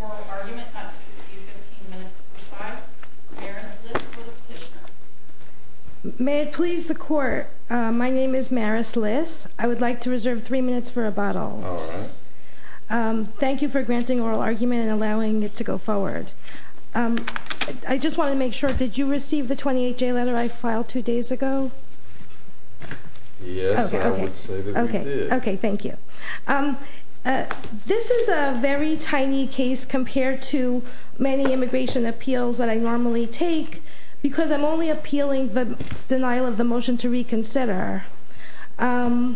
oral argument not to receive 15 minutes per side. Maris Liss for the petitioner. May it please the court, my name is Maris Liss. I would like to reserve three minutes for rebuttal. Thank you for granting oral argument and allowing it to go forward. I just wanted to make sure, did you receive the 28-J letter I filed two days ago? Yes, I would say that we did. Okay, thank you. This is a very tiny case compared to many immigration appeals that I normally take, because I'm only appealing the denial of the motion to reconsider. I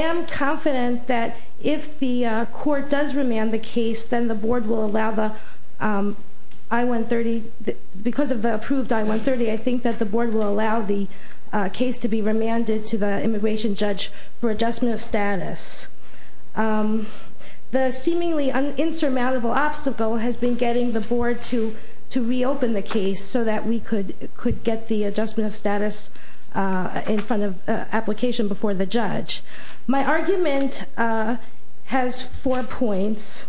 am confident that if the court does remand the case, then the board will allow the I-130, because of the approved I-130, I think that the board will allow the case to be remanded to the immigration judge for adjustment of status. The seemingly insurmountable obstacle has been getting the board to reopen the case so that we could get the adjustment of status in front of application before the judge. My argument has four points.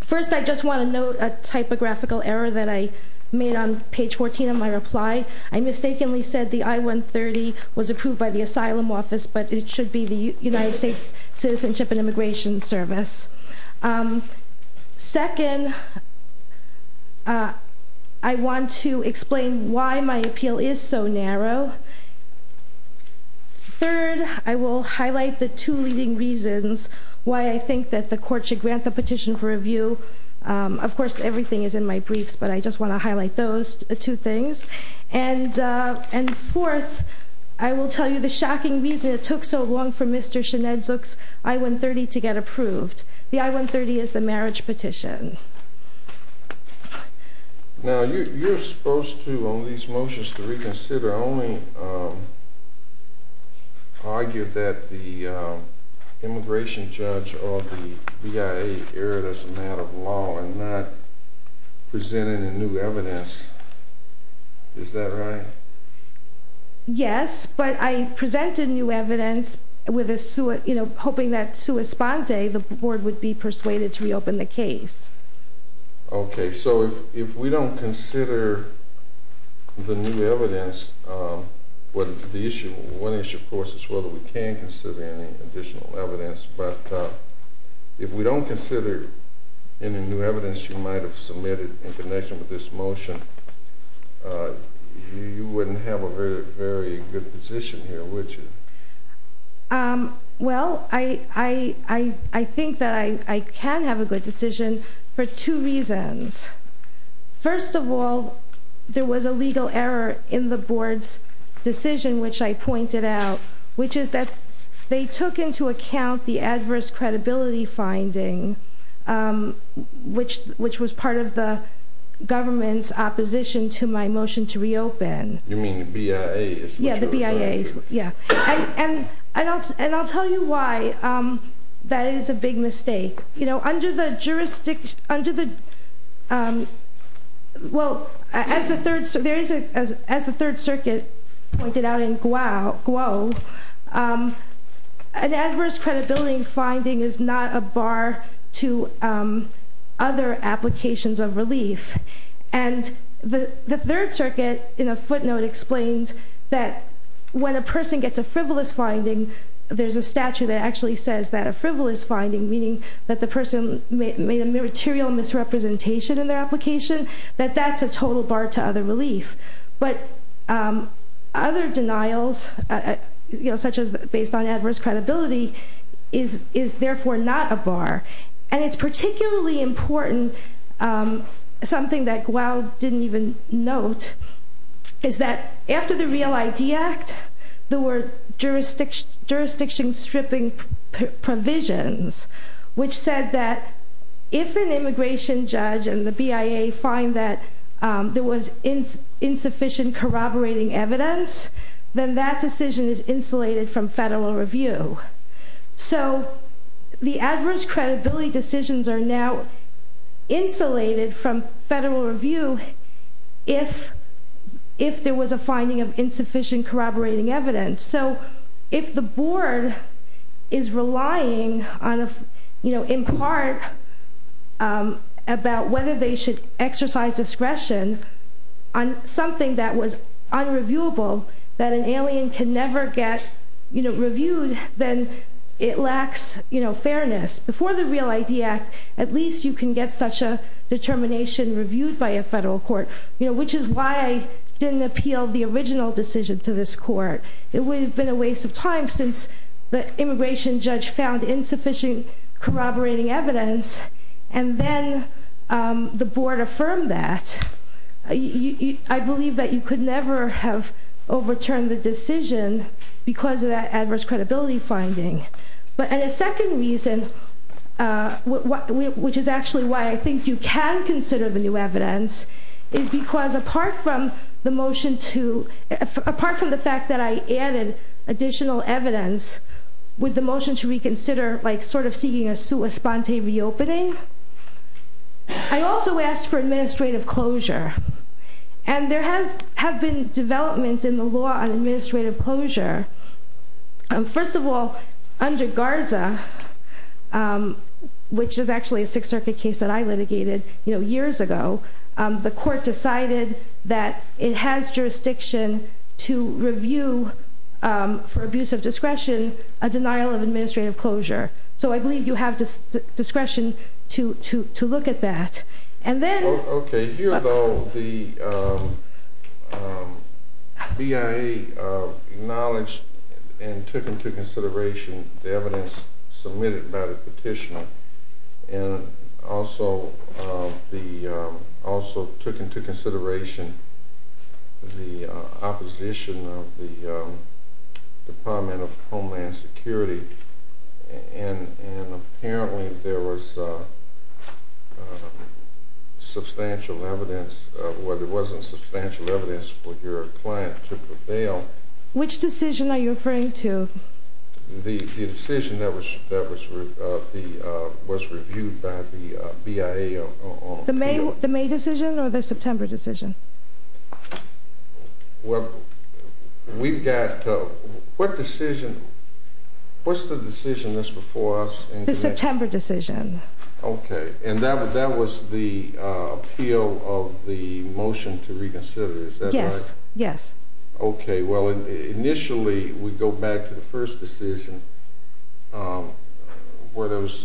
First, I just want to note a typographical error that I made on page 14 of my reply. I mistakenly said the I-130 was approved by the asylum office, but it should be the United States Citizenship and Immigration Service. Second, I want to explain why my appeal is so narrow. Third, I will highlight the two leading reasons why I think that the court should grant the petition for review. Of course, everything is in my briefs, but I just want to highlight those two things. And fourth, I will tell you the shocking reason it took so long for Mr. Sinead Zook's I-130 to get approved. The I-130 is the marriage petition. Now, you're supposed to, on these motions to reconsider, only argue that the immigration judge or the BIA erred as a matter of law and not present any new evidence. Is that right? Yes, but I presented new evidence hoping that, sui sponte, the board would be persuaded to reopen the case. Okay, so if we don't consider the new evidence, one issue, of course, is whether we can consider any additional evidence, but if we don't consider any new evidence you might have submitted in connection with this motion, you wouldn't have a very good position here, would you? Well, I think that I can have a good decision for two reasons. First of all, there was a legal error in the board's decision, which I pointed out, which is that they took into account the adverse credibility finding, which was part of the government's opposition to my motion to reopen. You mean the BIA's? Yeah, the BIA's, yeah. And I'll tell you why that is a big mistake. Under the jurisdiction, well, as the Third Circuit pointed out in Guo, an adverse credibility finding is not a bar to other applications of relief. And the Third Circuit, in a footnote, explains that when a person gets a frivolous finding, there's a statute that actually says that a frivolous finding, meaning that the person made a material misrepresentation in their application, that that's a total bar to other relief. But other denials, such as based on adverse credibility, is therefore not a bar. And it's particularly important, something that Guo didn't even note, is that after the Real ID Act, there were jurisdiction stripping provisions, which said that if an immigration judge and the BIA find that there was insufficient corroborating evidence, then that decision is insulated from federal review. So the adverse credibility decisions are now insulated from federal review if there was a finding of insufficient corroborating evidence. So if the board is relying in part about whether they should exercise discretion on something that was unreviewable, that an alien can never get reviewed, then it lacks fairness. Before the Real ID Act, at least you can get such a determination reviewed by a federal court, which is why I didn't appeal the original decision to this court. It would have been a waste of time since the immigration judge found insufficient corroborating evidence, and then the board affirmed that. I believe that you could never have overturned the decision because of that adverse credibility finding. But a second reason, which is actually why I think you can consider the new evidence, is because apart from the fact that I added additional evidence with the motion to reconsider, like sort of seeking a sponte reopening, I also asked for administrative closure. And there have been developments in the law on administrative closure. First of all, under Garza, which is actually a Sixth Circuit case that I litigated years ago, the court decided that it has jurisdiction to review for abuse of discretion a denial of administrative closure. So I believe you have discretion to look at that. Here, though, the BIA acknowledged and took into consideration the evidence submitted by the petitioner and also took into consideration the opposition of the Department of Homeland Security. And apparently there was substantial evidence. Well, there wasn't substantial evidence for your client to prevail. Which decision are you referring to? The decision that was reviewed by the BIA. The May decision or the September decision? Well, we've got to—what decision—what's the decision that's before us? The September decision. Okay, and that was the appeal of the motion to reconsider, is that right? Yes, yes. Okay, well, initially we go back to the first decision where there was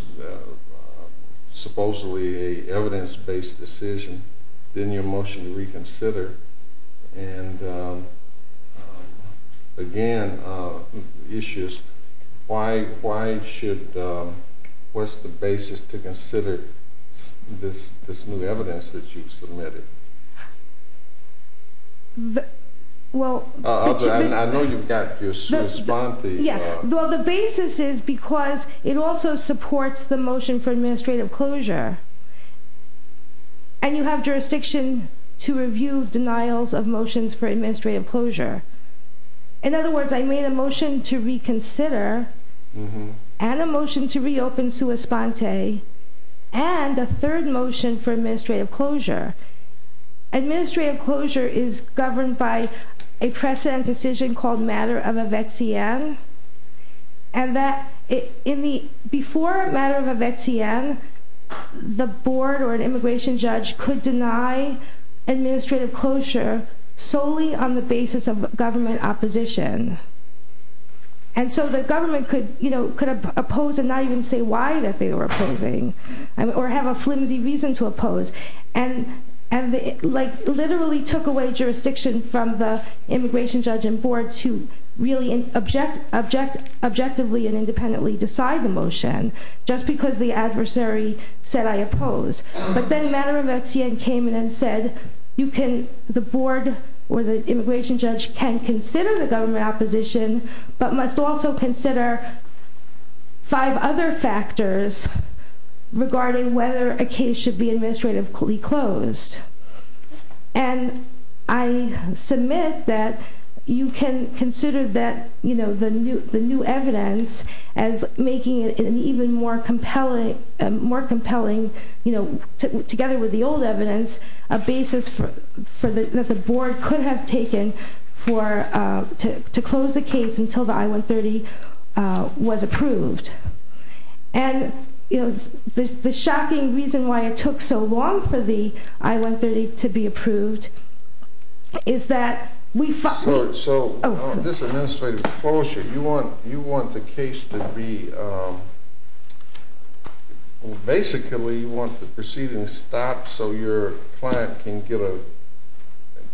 supposedly an evidence-based decision, then your motion to reconsider, and, again, issues. Why should—what's the basis to consider this new evidence that you submitted? Well— I know you've got your sua sponte. Yeah, well, the basis is because it also supports the motion for administrative closure, and you have jurisdiction to review denials of motions for administrative closure. In other words, I made a motion to reconsider and a motion to reopen sua sponte and a third motion for administrative closure. Administrative closure is governed by a precedent decision called matter of a vetsian, and that—before matter of a vetsian, the board or an immigration judge could deny administrative closure solely on the basis of government opposition. And so the government could, you know, could oppose and not even say why that they were opposing or have a flimsy reason to oppose. And, like, literally took away jurisdiction from the immigration judge and board to really objectively and independently decide the motion just because the adversary said, I oppose. But then matter of a vetsian came in and said, you can—the board or the immigration judge can consider the government opposition but must also consider five other factors regarding whether a case should be administratively closed. And I submit that you can consider that, you know, the new evidence as making it an even more compelling— that the board could have taken for—to close the case until the I-130 was approved. And, you know, the shocking reason why it took so long for the I-130 to be approved is that we— So this administrative closure, you want the case to be—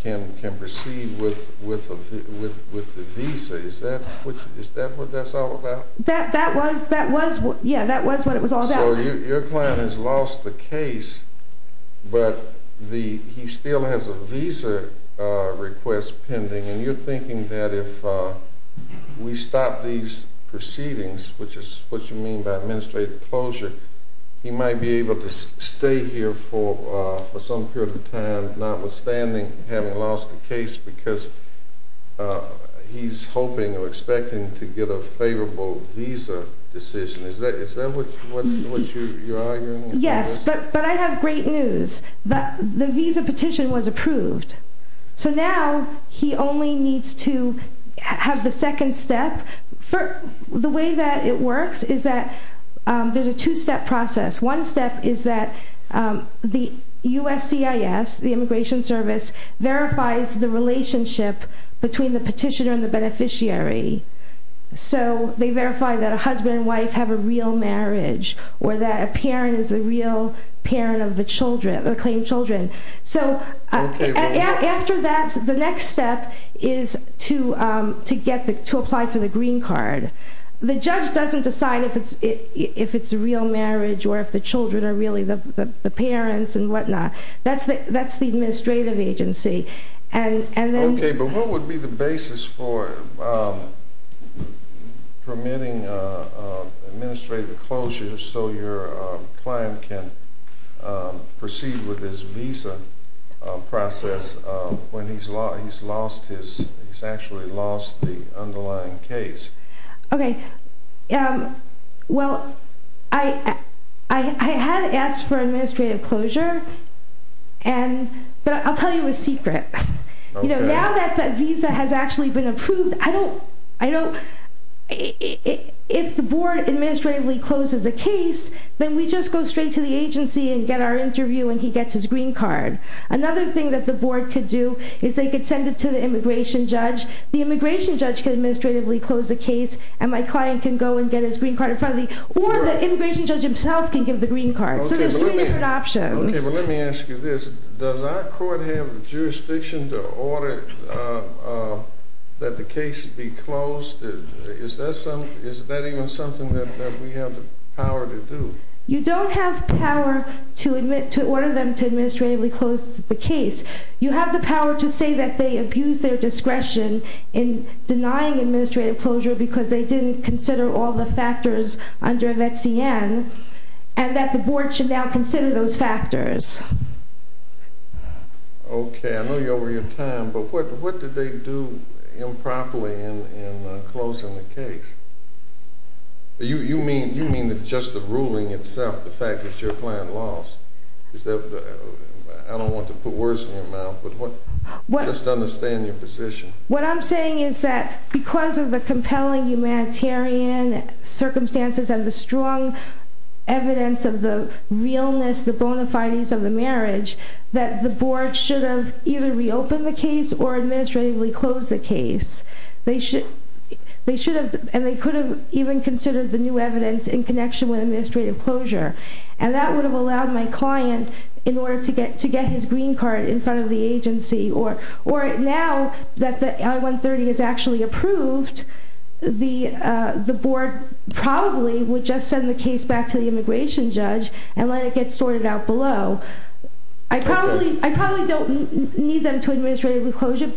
can proceed with the visa, is that what that's all about? That was—yeah, that was what it was all about. So your client has lost the case but he still has a visa request pending and you're thinking that if we stop these proceedings, which is what you mean by administrative closure, he might be able to stay here for some period of time notwithstanding having lost the case because he's hoping or expecting to get a favorable visa decision. Is that what you're arguing? Yes, but I have great news. The visa petition was approved. So now he only needs to have the second step. The way that it works is that there's a two-step process. One step is that the USCIS, the Immigration Service, verifies the relationship between the petitioner and the beneficiary. So they verify that a husband and wife have a real marriage or that a parent is a real parent of the children, the claimed children. After that, the next step is to apply for the green card. The judge doesn't decide if it's a real marriage or if the children are really the parents and whatnot. That's the administrative agency. Okay, but what would be the basis for permitting administrative closure so your client can proceed with his visa process when he's actually lost the underlying case? Okay, well, I had asked for administrative closure, but I'll tell you a secret. Now that the visa has actually been approved, if the board administratively closes the case, then we just go straight to the agency and get our interview, and he gets his green card. Another thing that the board could do is they could send it to the immigration judge. The immigration judge could administratively close the case, and my client can go and get his green card in front of me, or the immigration judge himself can give the green card. So there's three different options. Okay, but let me ask you this. Does our court have jurisdiction to order that the case be closed? Is that even something that we have the power to do? You don't have power to order them to administratively close the case. You have the power to say that they abused their discretion in denying administrative closure because they didn't consider all the factors under VETCN, and that the board should now consider those factors. Okay. I know you're over your time, but what did they do improperly in closing the case? You mean just the ruling itself, the fact that your client lost? I don't want to put words in your mouth, but just understand your position. What I'm saying is that because of the compelling humanitarian circumstances and the strong evidence of the realness, the bona fides of the marriage, that the board should have either reopened the case or administratively closed the case. And they could have even considered the new evidence in connection with administrative closure, and that would have allowed my client in order to get his green card in front of the agency. Or now that the I-130 is actually approved, the board probably would just send the case back to the immigration judge and let it get sorted out below. I probably don't need them to administratively close it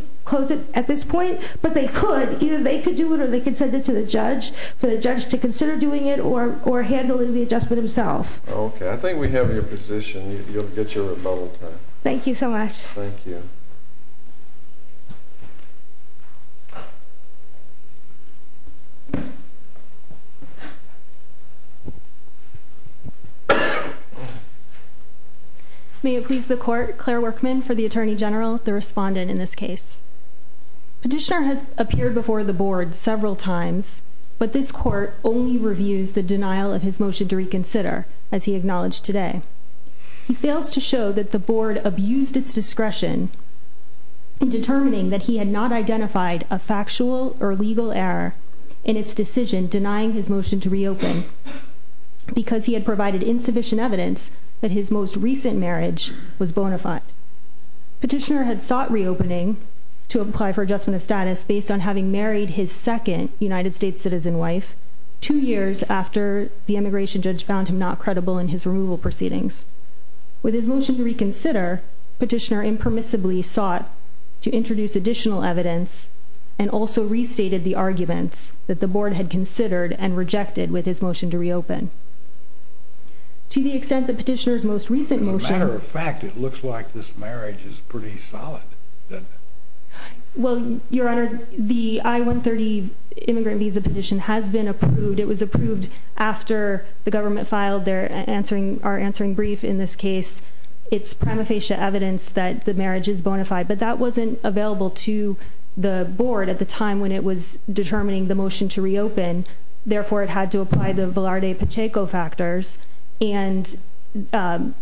at this point, but they could. Either they could do it or they could send it to the judge for the judge to consider doing it or handling the adjustment himself. Okay. I think we have your position. You'll get your rebuttal time. Thank you so much. Thank you. May it please the court, Claire Workman for the Attorney General, the respondent in this case. Petitioner has appeared before the board several times, but this court only reviews the denial of his motion to reconsider, as he acknowledged today. He fails to show that the board abused its discretion in determining that he had not identified a factual or legal error in its decision denying his motion to reopen because he had provided insufficient evidence that his most recent marriage was bona fide. Petitioner had sought reopening to apply for adjustment of status based on having married his second United States citizen wife two years after the immigration judge found him not credible in his removal proceedings. With his motion to reconsider, petitioner impermissibly sought to introduce additional evidence and also restated the arguments that the board had considered and rejected with his motion to reopen. To the extent that petitioner's most recent motion As a matter of fact, it looks like this marriage is pretty solid. Well, your honor, the I-130 immigrant visa petition has been approved. It was approved after the government filed our answering brief in this case. It's prima facie evidence that the marriage is bona fide, but that wasn't available to the board at the time when it was determining the motion to reopen. Therefore, it had to apply the Velarde-Pacheco factors. And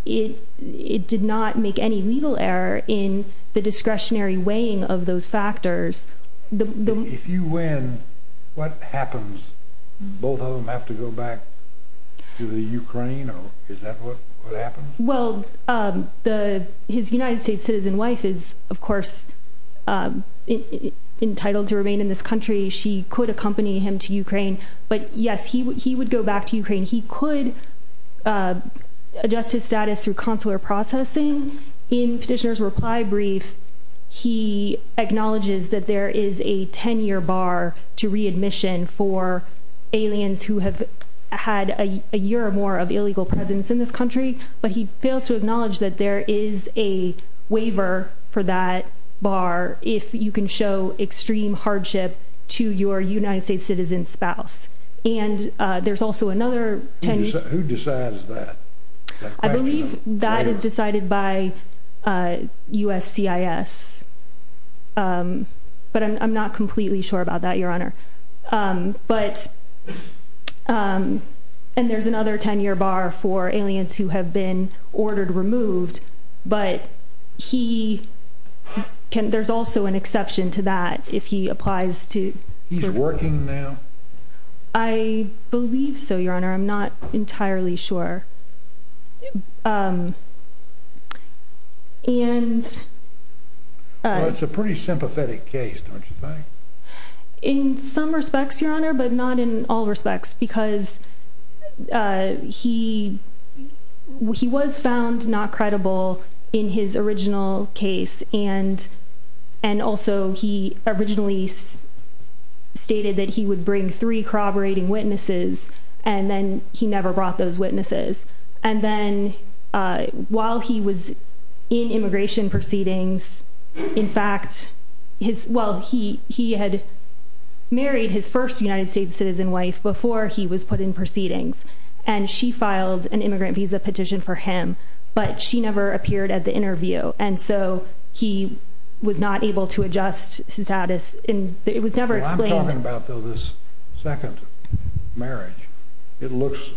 it did not make any legal error in the discretionary weighing of those factors. If you win, what happens? Both of them have to go back to the Ukraine? Is that what happens? Well, his United States citizen wife is, of course, entitled to remain in this country. She could accompany him to Ukraine. But yes, he would go back to Ukraine. He could adjust his status through consular processing. In petitioner's reply brief, he acknowledges that there is a ten-year bar to readmission for aliens who have had a year or more of illegal presence in this country. But he fails to acknowledge that there is a waiver for that bar if you can show extreme hardship to your United States citizen spouse. And there's also another ten-year... Who decides that? I believe that is decided by USCIS. But I'm not completely sure about that, Your Honor. And there's another ten-year bar for aliens who have been ordered removed. But there's also an exception to that if he applies to... He's working now? I believe so, Your Honor. I'm not entirely sure. Well, it's a pretty sympathetic case, don't you think? In some respects, Your Honor, but not in all respects because he was found not credible in his original case. And also, he originally stated that he would bring three corroborating witnesses, and then he never brought those witnesses. And then, while he was in immigration proceedings, in fact, he had married his first United States citizen wife before he was put in proceedings. And she filed an immigrant visa petition for him, but she never appeared at the interview. And so he was not able to adjust his status. It was never explained. Well, I'm talking about, though, this second marriage. It looks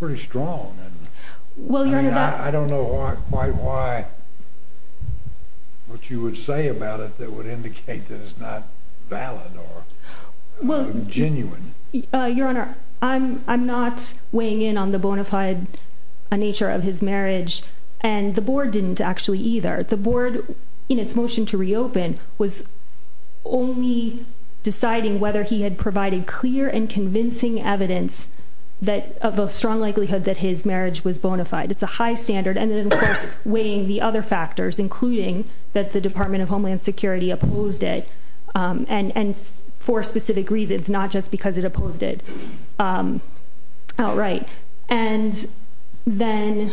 pretty strong. Well, Your Honor, that... I don't know quite why what you would say about it that would indicate that it's not valid or genuine. Your Honor, I'm not weighing in on the bona fide nature of his marriage. And the board didn't actually either. The board, in its motion to reopen, was only deciding whether he had provided clear and convincing evidence of a strong likelihood that his marriage was bona fide. It's a high standard. And then, of course, weighing the other factors, including that the Department of Homeland Security opposed it, and for specific reasons, not just because it opposed it outright. And then...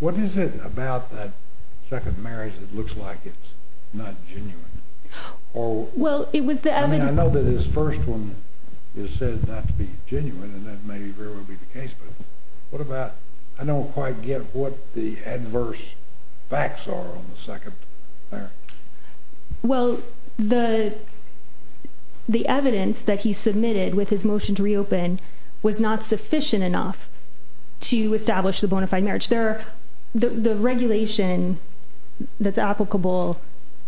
What is it about that second marriage that looks like it's not genuine? Well, it was the evidence... I mean, I know that his first one is said not to be genuine, and that may very well be the case. But what about... I don't quite get what the adverse facts are on the second marriage. Well, the evidence that he submitted with his motion to reopen was not sufficient enough to establish the bona fide marriage. The regulation that's applicable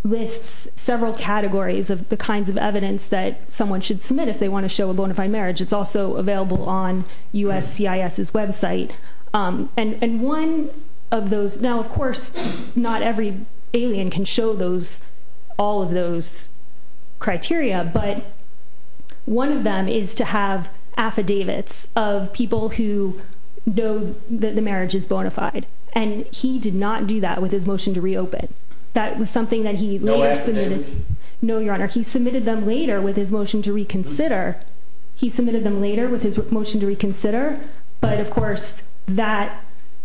lists several categories of the kinds of evidence that someone should submit if they want to show a bona fide marriage. It's also available on USCIS's website. And one of those... Now, of course, not every alien can show all of those criteria, but one of them is to have affidavits of people who know that the marriage is bona fide. And he did not do that with his motion to reopen. That was something that he later submitted. No affidavit? No, Your Honor. He submitted them later with his motion to reconsider. He submitted them later with his motion to reconsider. But, of course, that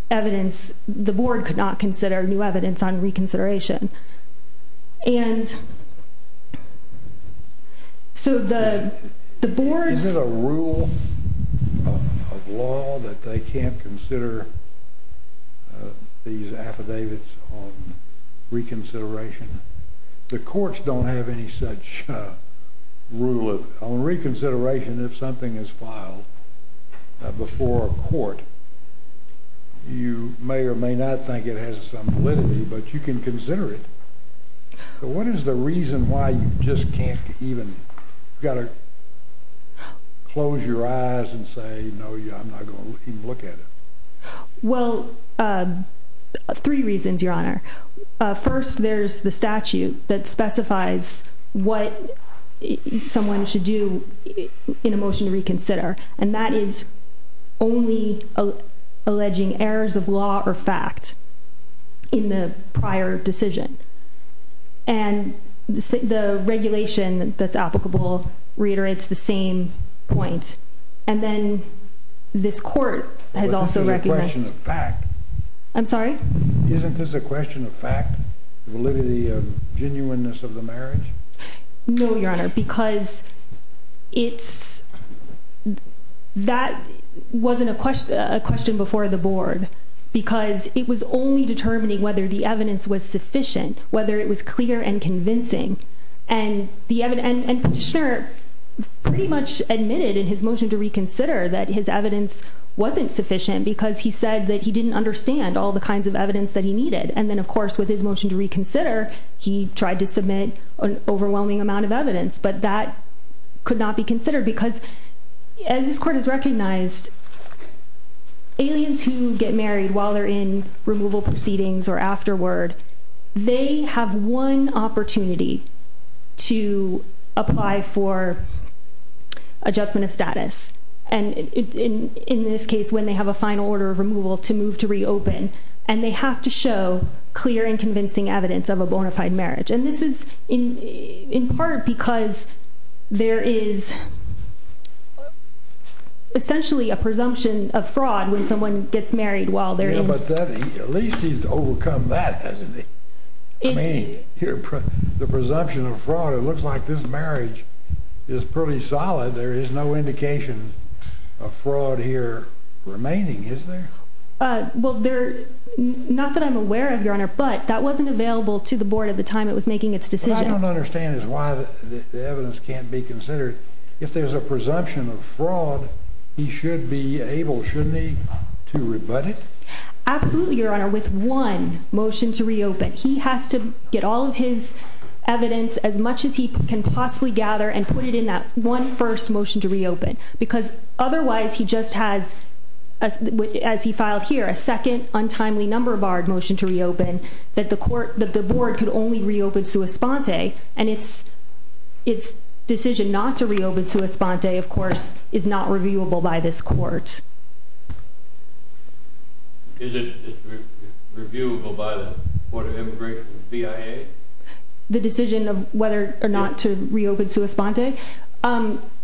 evidence... The board could not consider new evidence on reconsideration. And so the board's... Is there a rule of law that they can't consider these affidavits on reconsideration? The courts don't have any such rule. On reconsideration, if something is filed before a court, you may or may not think it has some validity, but you can consider it. What is the reason why you just can't even... You've got to close your eyes and say, no, I'm not going to even look at it. Well, three reasons, Your Honor. First, there's the statute that specifies what someone should do in a motion to reconsider, and that is only alleging errors of law or fact in the prior decision. And the regulation that's applicable reiterates the same point. And then this court has also recognized... But this is a question of fact. I'm sorry? Isn't this a question of fact, validity of genuineness of the marriage? That wasn't a question before the board because it was only determining whether the evidence was sufficient, whether it was clear and convincing. And the petitioner pretty much admitted in his motion to reconsider that his evidence wasn't sufficient because he said that he didn't understand all the kinds of evidence that he needed. And then, of course, with his motion to reconsider, he tried to submit an overwhelming amount of evidence, but that could not be considered because, as this court has recognized, aliens who get married while they're in removal proceedings or afterward, they have one opportunity to apply for adjustment of status, and in this case, when they have a final order of removal to move to reopen, and they have to show clear and convincing evidence of a bona fide marriage. And this is in part because there is essentially a presumption of fraud when someone gets married while they're in... Yeah, but at least he's overcome that, hasn't he? I mean, the presumption of fraud. It looks like this marriage is pretty solid. There is no indication of fraud here remaining, is there? Well, not that I'm aware of, Your Honor, but that wasn't available to the board at the time it was making its decision. What I don't understand is why the evidence can't be considered. If there's a presumption of fraud, he should be able, shouldn't he, to rebut it? Absolutely, Your Honor. With one motion to reopen, he has to get all of his evidence as much as he can possibly gather and put it in that one first motion to reopen because otherwise he just has, as he filed here, a second untimely number barred motion to reopen that the board could only reopen sua sponte, and its decision not to reopen sua sponte, of course, is not reviewable by this court. Is it reviewable by the Board of Immigration, the BIA? The decision of whether or not to reopen sua sponte?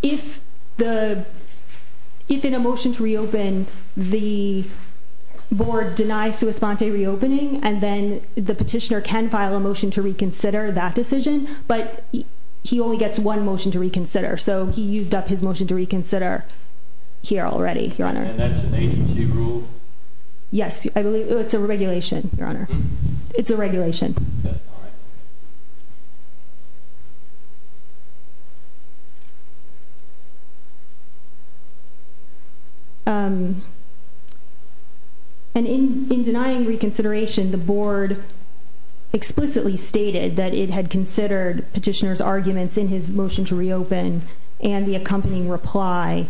If in a motion to reopen, the board denies sua sponte reopening and then the petitioner can file a motion to reconsider that decision, but he only gets one motion to reconsider, so he used up his motion to reconsider here already, Your Honor. And that's an agency rule? Yes, it's a regulation, Your Honor. It's a regulation. All right. And in denying reconsideration, the board explicitly stated that it had considered petitioner's arguments in his motion to reopen and the accompanying reply,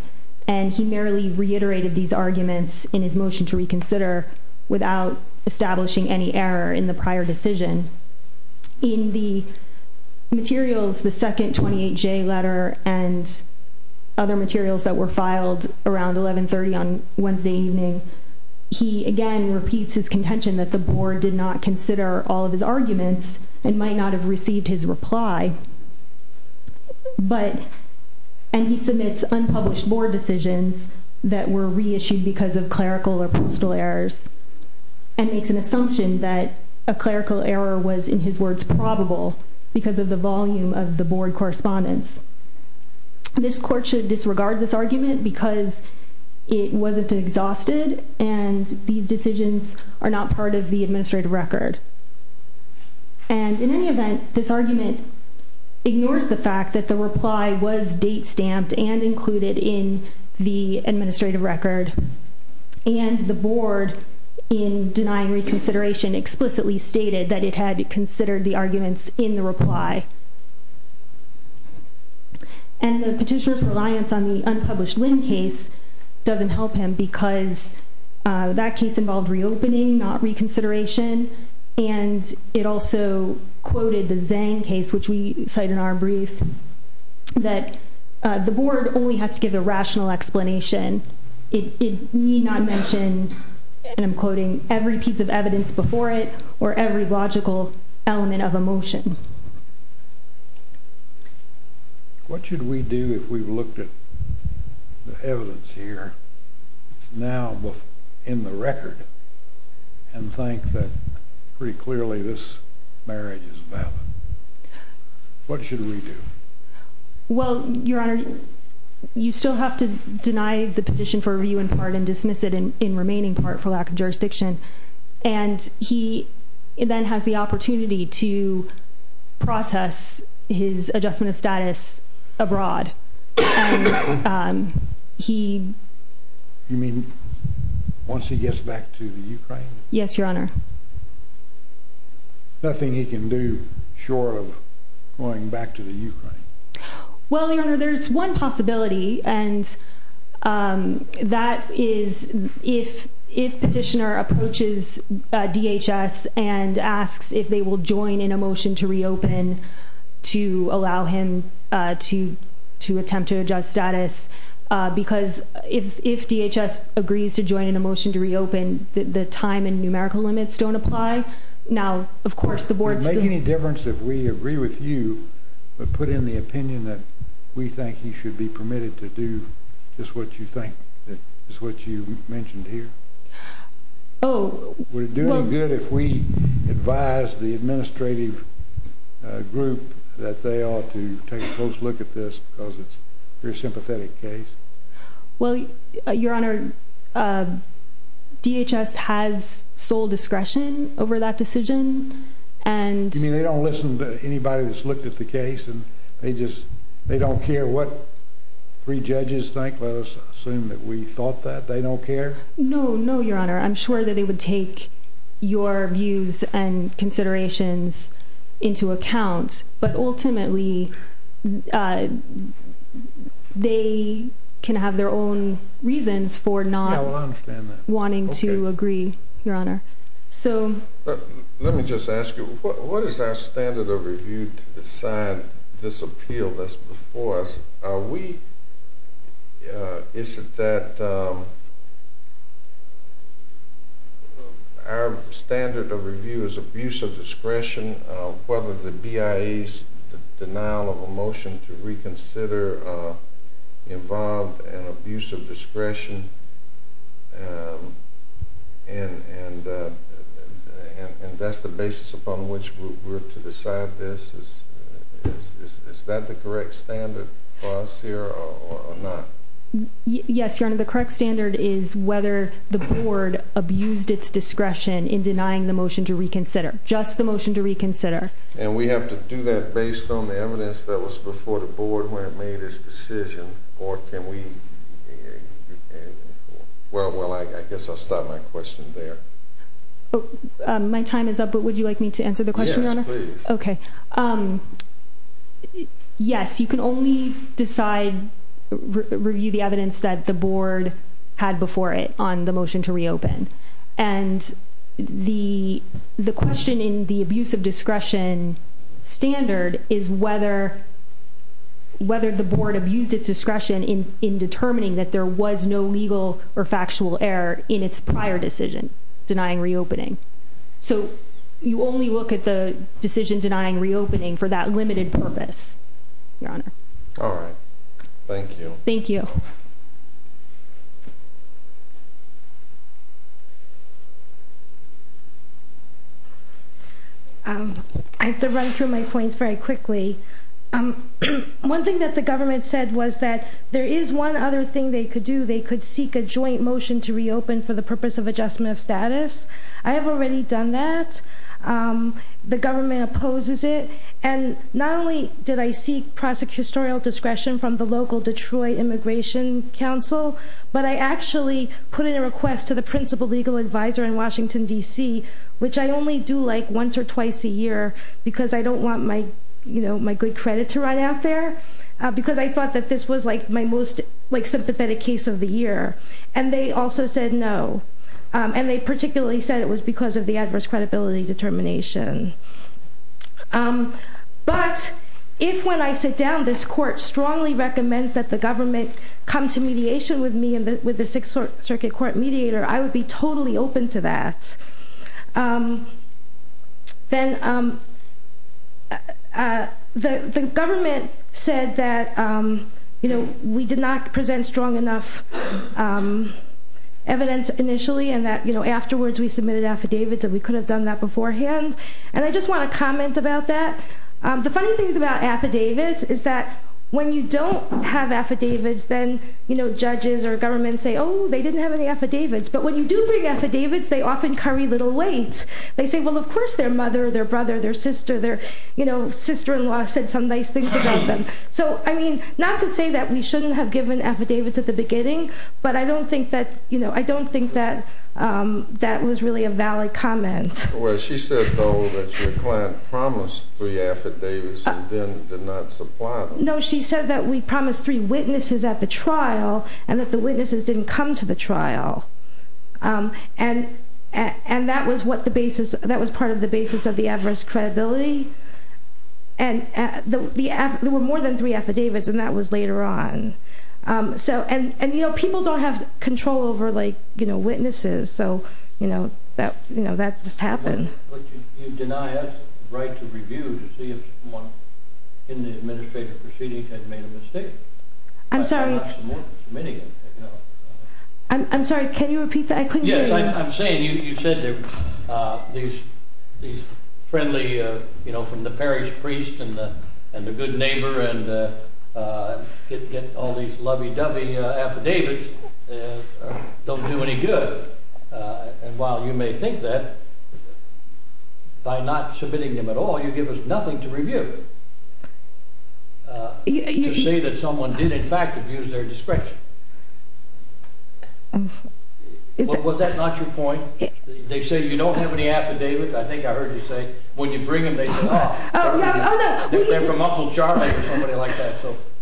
and he merely reiterated these arguments in his motion to reconsider without establishing any error in the prior decision. In the materials, the second 28J letter and other materials that were filed around 1130 on Wednesday evening, he again repeats his contention that the board did not consider all of his arguments and might not have received his reply, and he submits unpublished board decisions that were reissued because of clerical or postal errors and makes an assumption that a clerical error was, in his words, probable because of the volume of the board correspondence. This court should disregard this argument because it wasn't exhausted and these decisions are not part of the administrative record. And in any event, this argument ignores the fact that the reply was date-stamped and included in the administrative record and the board, in denying reconsideration, explicitly stated that it had considered the arguments in the reply. And the petitioner's reliance on the unpublished Lynn case doesn't help him because that case involved reopening, not reconsideration, and it also quoted the Zane case, which we cite in our brief, that the board only has to give a rational explanation. It need not mention, and I'm quoting, every piece of evidence before it or every logical element of a motion. What should we do if we've looked at the evidence here that's now in the record and think that pretty clearly this marriage is valid? What should we do? Well, Your Honor, you still have to deny the petition for review in part and dismiss it in remaining part for lack of jurisdiction, and he then has the opportunity to process his adjustment of status abroad. And he... You mean once he gets back to the Ukraine? Yes, Your Honor. Nothing he can do short of going back to the Ukraine. Well, Your Honor, there's one possibility, and that is if petitioner approaches DHS and asks if they will join in a motion to reopen to allow him to attempt to adjust status, because if DHS agrees to join in a motion to reopen, the time and numerical limits don't apply. Now, of course, the board still... Would it make any difference if we agree with you but put in the opinion that we think he should be permitted to do just what you think is what you mentioned here? Oh, well... Would it do any good if we advised the administrative group that they ought to take a close look at this because it's a very sympathetic case? Well, Your Honor, DHS has sole discretion over that decision, and... You mean they don't listen to anybody that's looked at the case and they just... They don't care what three judges think? Let us assume that we thought that. They don't care? No, no, Your Honor. I'm sure that they would take your views and considerations into account, but ultimately they can have their own reasons for not wanting to agree, Your Honor. Let me just ask you, what is our standard of review to decide this appeal that's before us? We... Is it that... Our standard of review is abuse of discretion, whether the BIA's denial of a motion to reconsider involved an abuse of discretion, and that's the basis upon which we're to decide this? Is that the correct standard for us here or not? Yes, Your Honor. The correct standard is whether the board abused its discretion in denying the motion to reconsider, just the motion to reconsider. And we have to do that based on the evidence that was before the board when it made its decision, or can we... Well, I guess I'll stop my question there. My time is up, but would you like me to answer the question, Your Honor? Yes, please. Okay. Yes, you can only decide... Review the evidence that the board had before it on the motion to reopen. And the question in the abuse of discretion standard is whether the board abused its discretion in determining that there was no legal or factual error in its prior decision denying reopening. So you only look at the decision denying reopening for that limited purpose, Your Honor. All right. Thank you. Thank you. I have to run through my points very quickly. One thing that the government said was that there is one other thing they could do. They could seek a joint motion to reopen for the purpose of adjustment of status. I have already done that. The government opposes it. And not only did I seek prosecutorial discretion from the local Detroit Immigration Council, but I actually put in a request to the principal legal advisor in Washington, D.C., which I only do, like, once or twice a year because I don't want my good credit to run out there, because I thought that this was, like, my most sympathetic case of the year. And they also said no. And they particularly said it was because of the adverse credibility determination. But if, when I sit down, this court strongly recommends that the government come to mediation with me and with the Sixth Circuit Court mediator, I would be totally open to that. Then the government said that, you know, we did not present strong enough evidence initially and that, you know, afterwards we submitted affidavits and we could have done that beforehand. And I just want to comment about that. The funny things about affidavits is that when you don't have affidavits, then, you know, judges or government say, oh, they didn't have any affidavits. But when you do bring affidavits, they often curry little weight. They say, well, of course their mother, their brother, their sister, their, you know, sister-in-law said some nice things about them. So, I mean, not to say that we shouldn't have given affidavits at the beginning, but I don't think that, you know, I don't think that that was really a valid comment. Well, she said, though, that your client promised three affidavits and then did not supply them. No, she said that we promised three witnesses at the trial and that the witnesses didn't come to the trial. And that was what the basis, that was part of the basis of the adverse credibility. And there were more than three affidavits, and that was later on. So, and, you know, people don't have control over, like, you know, witnesses, so, you know, that just happened. But you deny us the right to review to see if someone in the administrative proceedings had made a mistake. I'm sorry. I'm sorry, can you repeat that? Yes, I'm saying you said there were these friendly, you know, from the parish priest and the good neighbor and get all these lovey-dovey affidavits don't do any good. And while you may think that, by not submitting them at all, you give us nothing to review. To say that someone did, in fact, abuse their discretion. Was that not your point? They say you don't have any affidavits. I think I heard you say when you bring them, they say, oh, they're from Uncle Charlie or somebody like that.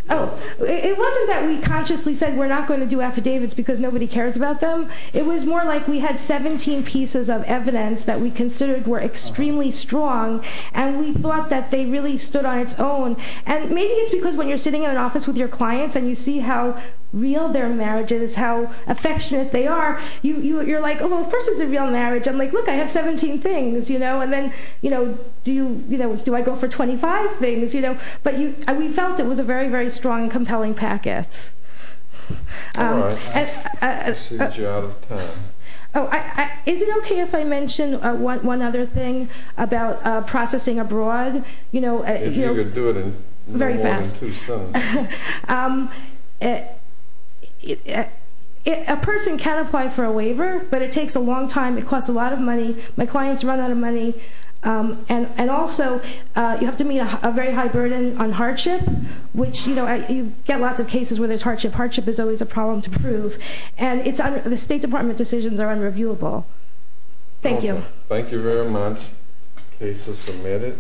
Oh, it wasn't that we consciously said we're not going to do affidavits because nobody cares about them. It was more like we had 17 pieces of evidence that we considered were extremely strong, and we thought that they really stood on its own. And maybe it's because when you're sitting in an office with your clients and you see how real their marriage is, how affectionate they are, you're like, oh, of course it's a real marriage. I'm like, look, I have 17 things. And then do I go for 25 things? But we felt it was a very, very strong and compelling packet. All right. I see that you're out of time. Is it okay if I mention one other thing about processing abroad? If you could do it in more than two sentences. Very fast. A person can apply for a waiver, but it takes a long time. It costs a lot of money. My clients run out of money. And also you have to meet a very high burden on hardship, which you get lots of cases where there's hardship. Hardship is always a problem to prove. And the State Department decisions are unreviewable. Thank you. Thank you very much. Case is submitted.